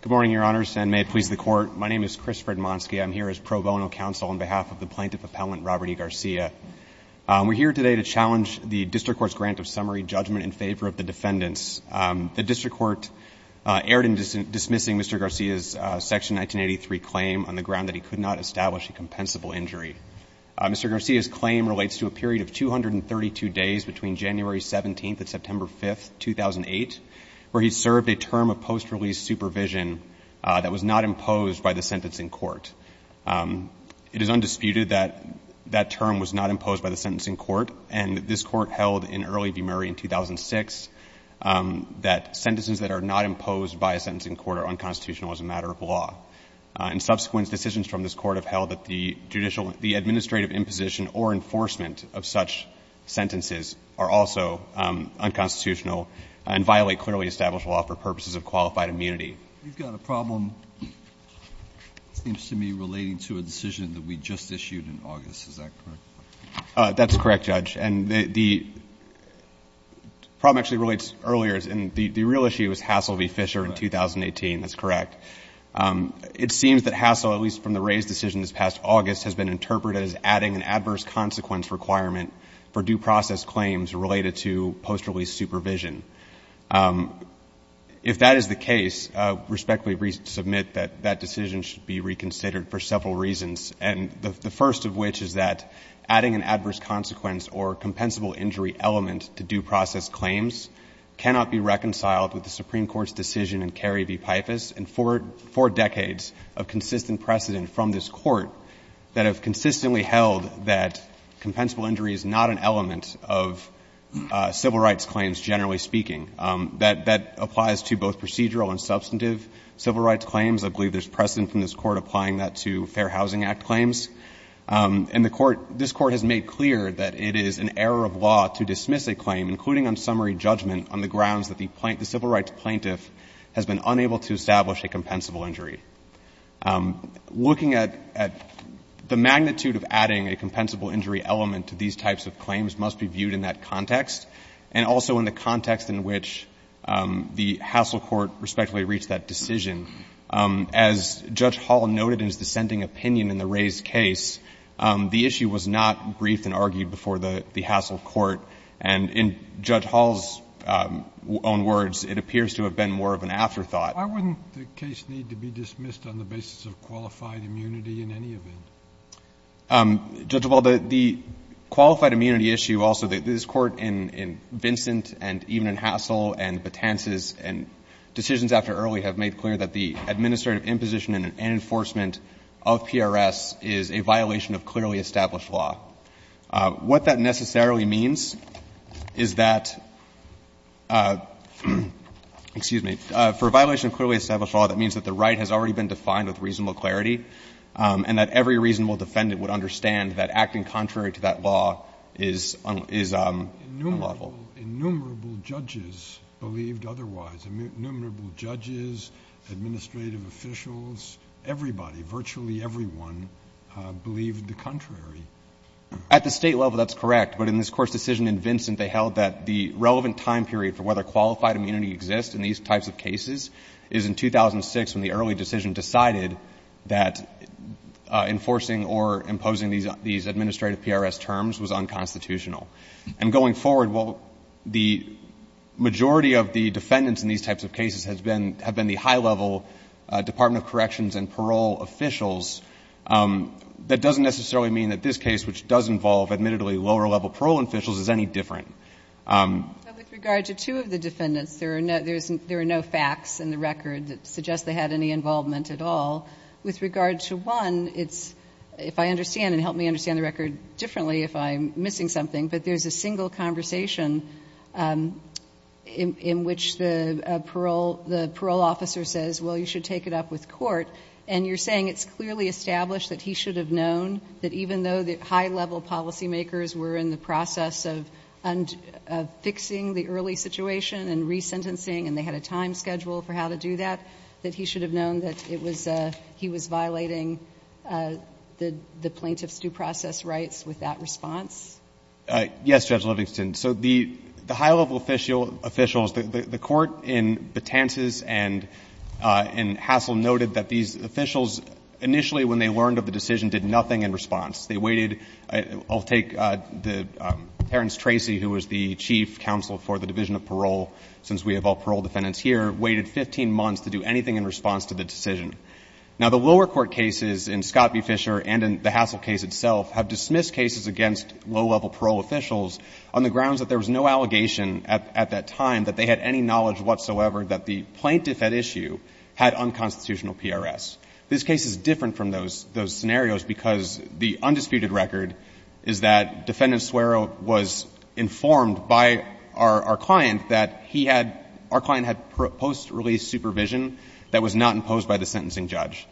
Good morning, Your Honors, and may it please the Court, my name is Chris Fredmonski, I'm here as pro bono counsel on behalf of the Plaintiff Appellant, Robert E. Garcia. We're here today to challenge the District Court's grant of summary judgment in favor of the defendants. The District Court erred in dismissing Mr. Garcia's Section 1983 claim on the ground that he could not establish a compensable injury. Mr. Garcia's claim relates to a period of 232 days between January 17th and September 5th, 2008, where he served a term of post-release supervision that was not imposed by the sentencing court. It is undisputed that that term was not imposed by the sentencing court, and this court held in Early v. Murray in 2006 that sentences that are not imposed by a sentencing court are unconstitutional as a matter of law. And subsequent decisions from this court have held that the judicial – the administrative imposition or enforcement of such sentences are also unconstitutional and violate clearly established law for purposes of qualified immunity. You've got a problem, it seems to me, relating to a decision that we just issued in August. Is that correct? That's correct, Judge. And the problem actually relates earlier. The real issue is Hassel v. Fisher in 2018. That's correct. It seems that Hassel, at least from the raised decision this past August, has been interpreted as adding an adverse consequence requirement for due process claims related to post-release supervision. If that is the case, I respectfully submit that that decision should be reconsidered for several reasons, and the first of which is that adding an adverse consequence or compensable injury element to due process claims cannot be reconciled with the Supreme Court's decision in Carey v. Pifus and four decades of consistent precedent from this court that have consistently held that compensable injury is not an element of civil rights claims, generally speaking. That applies to both procedural and substantive civil rights claims. I believe there's precedent from this Court applying that to Fair Housing Act claims. And the Court — this Court has made clear that it is an error of law to dismiss a claim, including on summary judgment, on the grounds that the civil rights plaintiff has been unable to establish a compensable injury. Looking at the magnitude of adding a compensable injury element to these types of claims must be viewed in that context and also in the context in which the Hassel court respectfully reached that decision. As Judge Hall noted in his dissenting opinion in the Rays case, the issue was not briefed and argued before the Hassel court. And in Judge Hall's own words, it appears to have been more of an afterthought. Why wouldn't the case need to be dismissed on the basis of qualified immunity in any event? Judge, well, the qualified immunity issue also, this Court in Vincent and even in Hassel and Betances and decisions after Early have made clear that the administrative imposition and enforcement of PRS is a violation of clearly established law. What that necessarily means is that — excuse me. For a violation of clearly established law, that means that the right has already been defined with reasonable clarity and that every reasonable defendant would understand that acting contrary to that law is unlawful. But all innumerable judges believed otherwise. Innumerable judges, administrative officials, everybody, virtually everyone, believed the contrary. At the State level, that's correct. But in this Court's decision in Vincent, they held that the relevant time period for whether qualified immunity exists in these types of cases is in 2006, when the Early decision decided that enforcing or imposing these administrative PRS terms was unconstitutional. And going forward, while the majority of the defendants in these types of cases have been the high-level Department of Corrections and parole officials, that doesn't necessarily mean that this case, which does involve admittedly lower-level parole officials, is any different. But with regard to two of the defendants, there are no facts in the record that suggest they had any involvement at all. With regard to one, it's — if I understand, and help me understand the record differently if I'm missing something, but there's a single conversation in which the parole officer says, well, you should take it up with court, and you're saying it's clearly established that he should have known that even though the high-level policymakers were in the process of fixing the early situation and resentencing and they had a time schedule for how to do that, that he should have known that it Yes, Judge Livingston. So the high-level officials, the Court in Betances and in Hassell noted that these officials, initially when they learned of the decision, did nothing in response. They waited — I'll take the — Terence Tracy, who was the chief counsel for the Division of Parole, since we have all parole defendants here, waited 15 months to do anything in response to the decision. Now, the lower court cases in Scott v. Fisher and in the Hassell case itself have dismissed cases against low-level parole officials on the grounds that there was no allegation at that time that they had any knowledge whatsoever that the plaintiff at issue had unconstitutional PRS. This case is different from those scenarios because the undisputed record is that Defendant Suero was informed by our client that he had — our client had post-release supervision that was not imposed by the sentencing judge.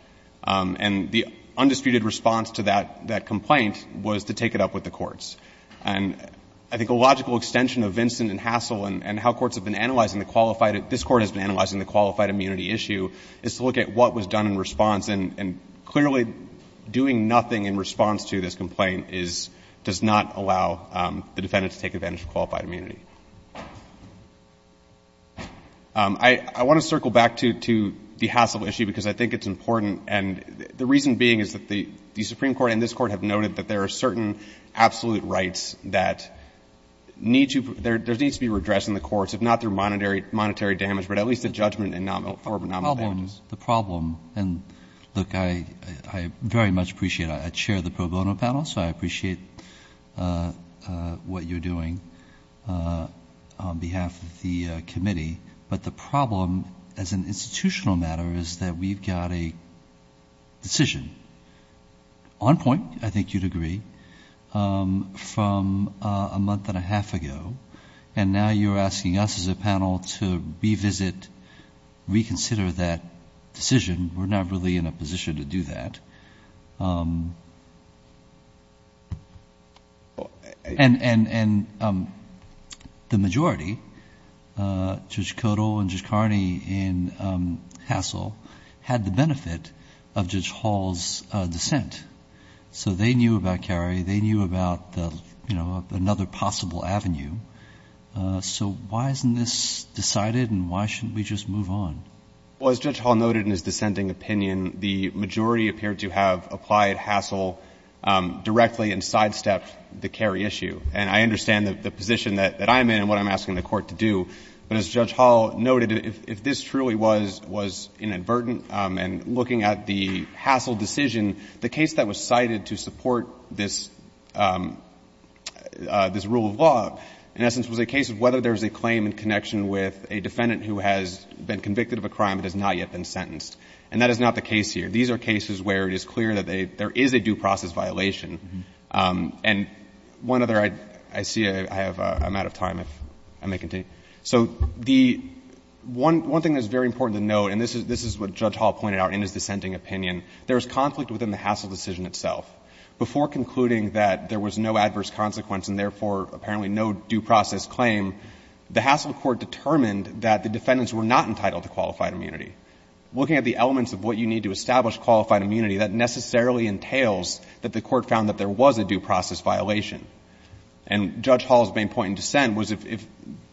And the undisputed response to that complaint was to take it up with the courts. And I think a logical extension of Vincent and Hassell and how courts have been analyzing the qualified — this Court has been analyzing the qualified immunity issue is to look at what was done in response. And clearly, doing nothing in response to this complaint is — does not allow the defendant to take advantage of qualified immunity. I want to circle back to the Hassell issue because I think it's important. And the reason being is that the Supreme Court and this Court have noted that there are certain absolute rights that need to — there needs to be redress in the courts, if not through monetary damage, but at least a judgment for anomalous damages. The problem — the problem — and, look, I very much appreciate it. I chair the pro bono panel, so I appreciate what you're doing. On behalf of the committee, but the problem as an institutional matter is that we've got a decision on point, I think you'd agree, from a month and a half ago. And now you're asking us as a panel to revisit, reconsider that decision. We're not really in a position to do that. And the majority, Judge Kodal and Judge Carney in Hassell, had the benefit of Judge Hall's dissent. So they knew about Cary. They knew about, you know, another possible avenue. So why isn't this decided, and why shouldn't we just move on? Well, as Judge Hall noted in his dissenting opinion, the majority appeared to have applied Hassell directly and sidestepped the Cary issue. And I understand the position that I'm in and what I'm asking the Court to do. But as Judge Hall noted, if this truly was inadvertent, and looking at the Hassell decision, the case that was cited to support this rule of law, in essence, was a case of whether there's a claim in connection with a defendant who has been convicted of a crime but has not yet been sentenced. And that is not the case here. These are cases where it is clear that there is a due process violation. And one other, I see I have — I'm out of time, if I may continue. So the — one thing that's very important to note, and this is what Judge Hall pointed out in his dissenting opinion, there is conflict within the Hassell decision itself. Before concluding that there was no adverse consequence and, therefore, apparently no due process claim, the Hassell Court determined that the defendants were not entitled to qualified immunity. Looking at the elements of what you need to establish qualified immunity, that necessarily entails that the Court found that there was a due process violation. And Judge Hall's main point in dissent was if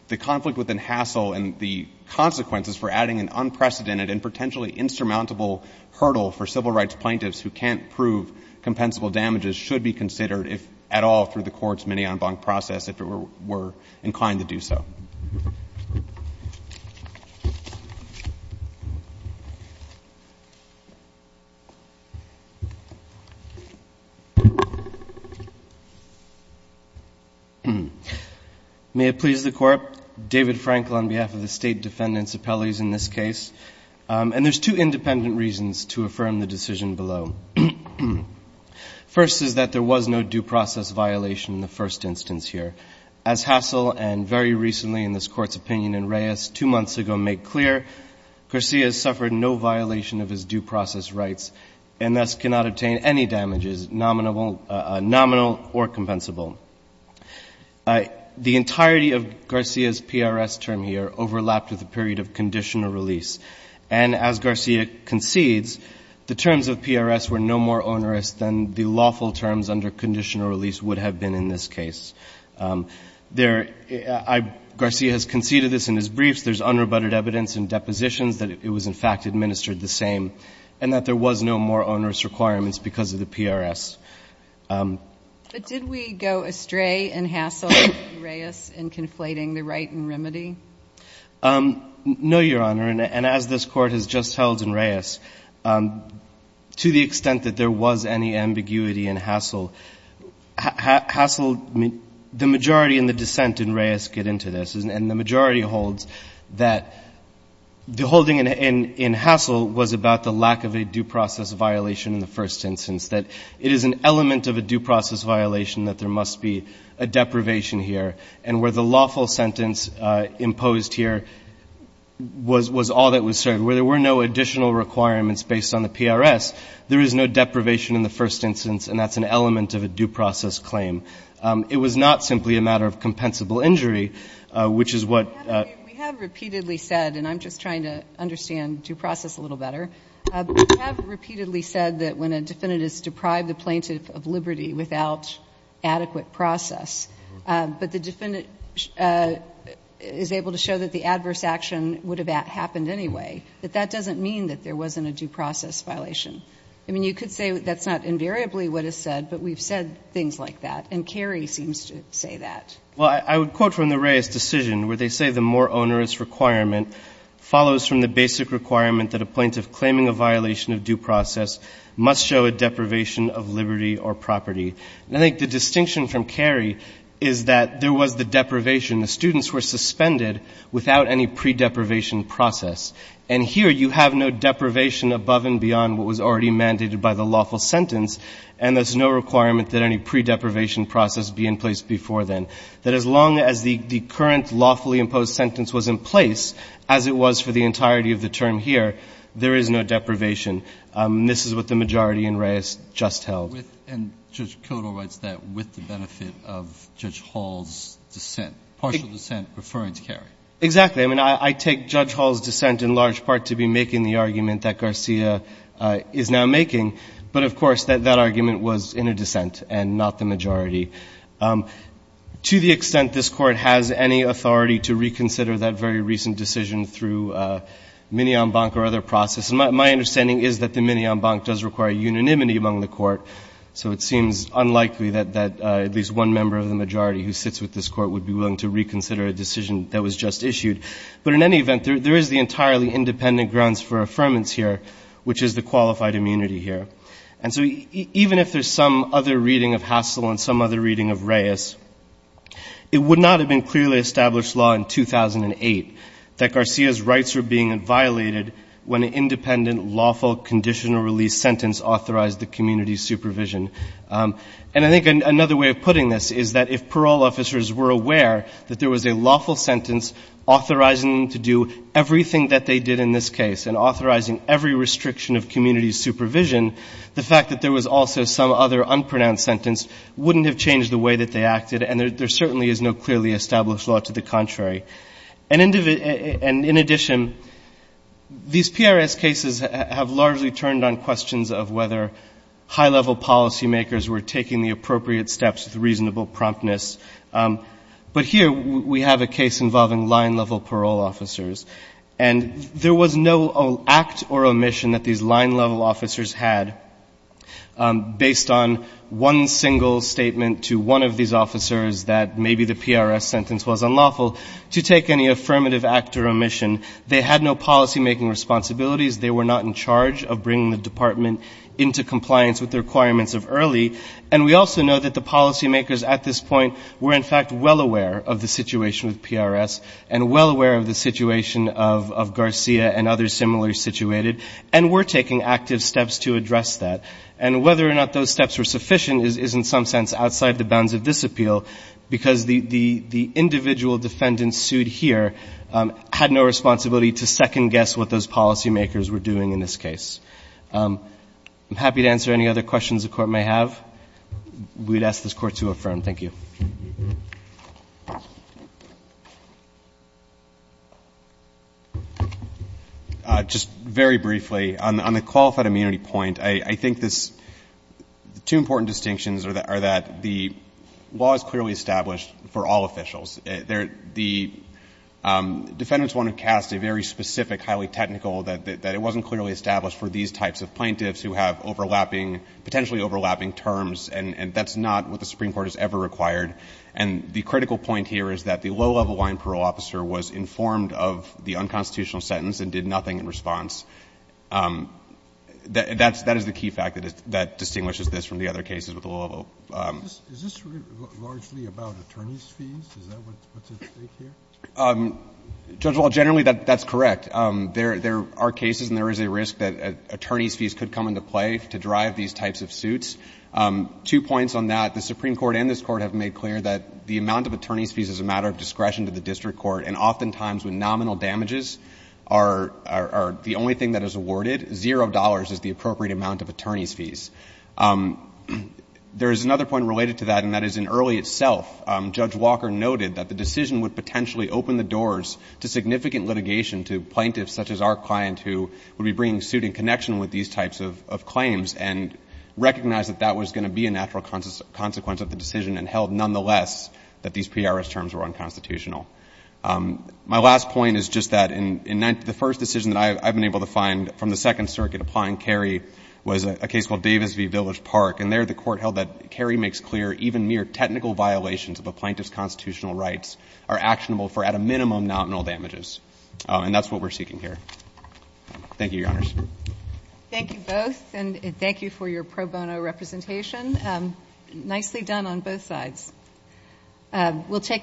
the conflict within Hassell and the consequences for adding an unprecedented and potentially insurmountable hurdle for civil rights plaintiffs who can't prove compensable damages should be considered, if at all, through the Court's mini-en banc process, if it were inclined to do so. May it please the Court. David Frankel on behalf of the State Defendant's Appellees in this case. And there's two independent reasons to affirm the decision below. First is that there was no due process violation in the first instance here. As Hassell and very recently in this Court's opinion in Reyes two months ago made clear, Garcia suffered no violation of his due process rights and thus cannot obtain any damages, nominal or compensable. The entirety of Garcia's PRS term here overlapped with a period of conditional release. And as Garcia concedes, the terms of PRS were no more onerous than the lawful terms under conditional release would have been in this case. Garcia has conceded this in his briefs. There's unrebutted evidence in depositions that it was in fact administered the same and that there was no more onerous requirements because of the PRS. But did we go astray in Hassell and Reyes in conflating the right and remedy? No, Your Honor. And as this Court has just held in Reyes, to the extent that there was any ambiguity in Hassell, Hassell, the majority in the dissent in Reyes get into this. And the majority holds that the holding in Hassell was about the lack of a due process violation in the first instance, that it is an element of a due process violation that there must be a deprivation here. And where the lawful sentence imposed here was all that was certain, where there were no additional requirements based on the PRS, there is no deprivation in the first instance, and that's an element of a due process claim. It was not simply a matter of compensable injury, which is what ---- We have repeatedly said, and I'm just trying to understand due process a little better, we have repeatedly said that when a defendant is deprived of liberty without adequate process, but the defendant is able to show that the adverse action would have happened anyway, that that doesn't mean that there wasn't a due process violation. I mean, you could say that's not invariably what is said, but we've said things like that, and Carey seems to say that. Well, I would quote from the Reyes decision, where they say the more onerous requirement follows from the basic requirement that a plaintiff claiming a violation of due process must show a deprivation of liberty or property. And I think the distinction from Carey is that there was the deprivation. The students were suspended without any pre-deprivation process. And here you have no deprivation above and beyond what was already mandated by the in place before then. That as long as the current lawfully imposed sentence was in place, as it was for the entirety of the term here, there is no deprivation. This is what the majority in Reyes just held. And Judge Koto writes that with the benefit of Judge Hall's dissent, partial dissent referring to Carey. Exactly. I mean, I take Judge Hall's dissent in large part to be making the argument that Garcia is now making. But, of course, that argument was in a dissent and not the majority. To the extent this Court has any authority to reconsider that very recent decision through Mignon-Banc or other process, my understanding is that the Mignon-Banc does require unanimity among the Court. So it seems unlikely that at least one member of the majority who sits with this Court would be willing to reconsider a decision that was just issued. But in any event, there is the entirely independent grounds for affirmance here, which is the qualified immunity here. And so even if there's some other reading of Hassell and some other reading of Reyes, it would not have been clearly established law in 2008 that Garcia's rights were being violated when an independent, lawful, conditional release sentence authorized the community's supervision. And I think another way of putting this is that if parole officers were aware that there was a lawful sentence authorizing them to do everything that they did in this case and authorizing every restriction of community supervision, the fact that there was also some other unpronounced sentence wouldn't have changed the way that they acted. And there certainly is no clearly established law to the contrary. And in addition, these PRS cases have largely turned on questions of whether high-level policymakers were taking the appropriate steps with reasonable promptness. But here we have a case involving line-level parole officers. And there was no act or omission that these line-level officers had based on one single statement to one of these officers that maybe the PRS sentence was unlawful to take any affirmative act or omission. They had no policymaking responsibilities. They were not in charge of bringing the department into compliance with the requirements of early. And we also know that the policymakers at this point were, in fact, well aware of the situation with PRS and well aware of the situation of Garcia and others similarly situated, and were taking active steps to address that. And whether or not those steps were sufficient is in some sense outside the bounds of this appeal, because the individual defendant sued here had no responsibility to second-guess what those policymakers were doing in this case. I'm happy to answer any other questions the Court may have. We'd ask this Court to affirm. Thank you. Just very briefly, on the qualified immunity point, I think this two important distinctions are that the law is clearly established for all officials. The defendants want to cast a very specific, highly technical that it wasn't clearly established for these types of plaintiffs who have overlapping, potentially And the critical point here is that the low-level line parole officer was informed of the unconstitutional sentence and did nothing in response. That is the key fact that distinguishes this from the other cases with the low-level. Is this largely about attorney's fees? Is that what's at stake here? Judge Wall, generally, that's correct. There are cases and there is a risk that attorney's fees could come into play to drive these types of suits. Two points on that. The Supreme Court and this Court have made clear that the amount of attorney's fees is a matter of discretion to the district court. And oftentimes, when nominal damages are the only thing that is awarded, zero dollars is the appropriate amount of attorney's fees. There is another point related to that, and that is in early itself, Judge Walker noted that the decision would potentially open the doors to significant litigation to plaintiffs such as our client who would be bringing suit in connection with these types of claims and recognize that that was going to be a natural consequence of the decision and held nonetheless that these pre-arrest terms were unconstitutional. My last point is just that in the first decision that I've been able to find from the Second Circuit applying Kerry was a case called Davis v. Village Park. And there the Court held that Kerry makes clear even mere technical violations of a plaintiff's constitutional rights are actionable for at a minimum nominal damages. And that's what we're seeking here. Thank you, Your Honors. Thank you both. And thank you for your pro bono representation. Nicely done on both sides.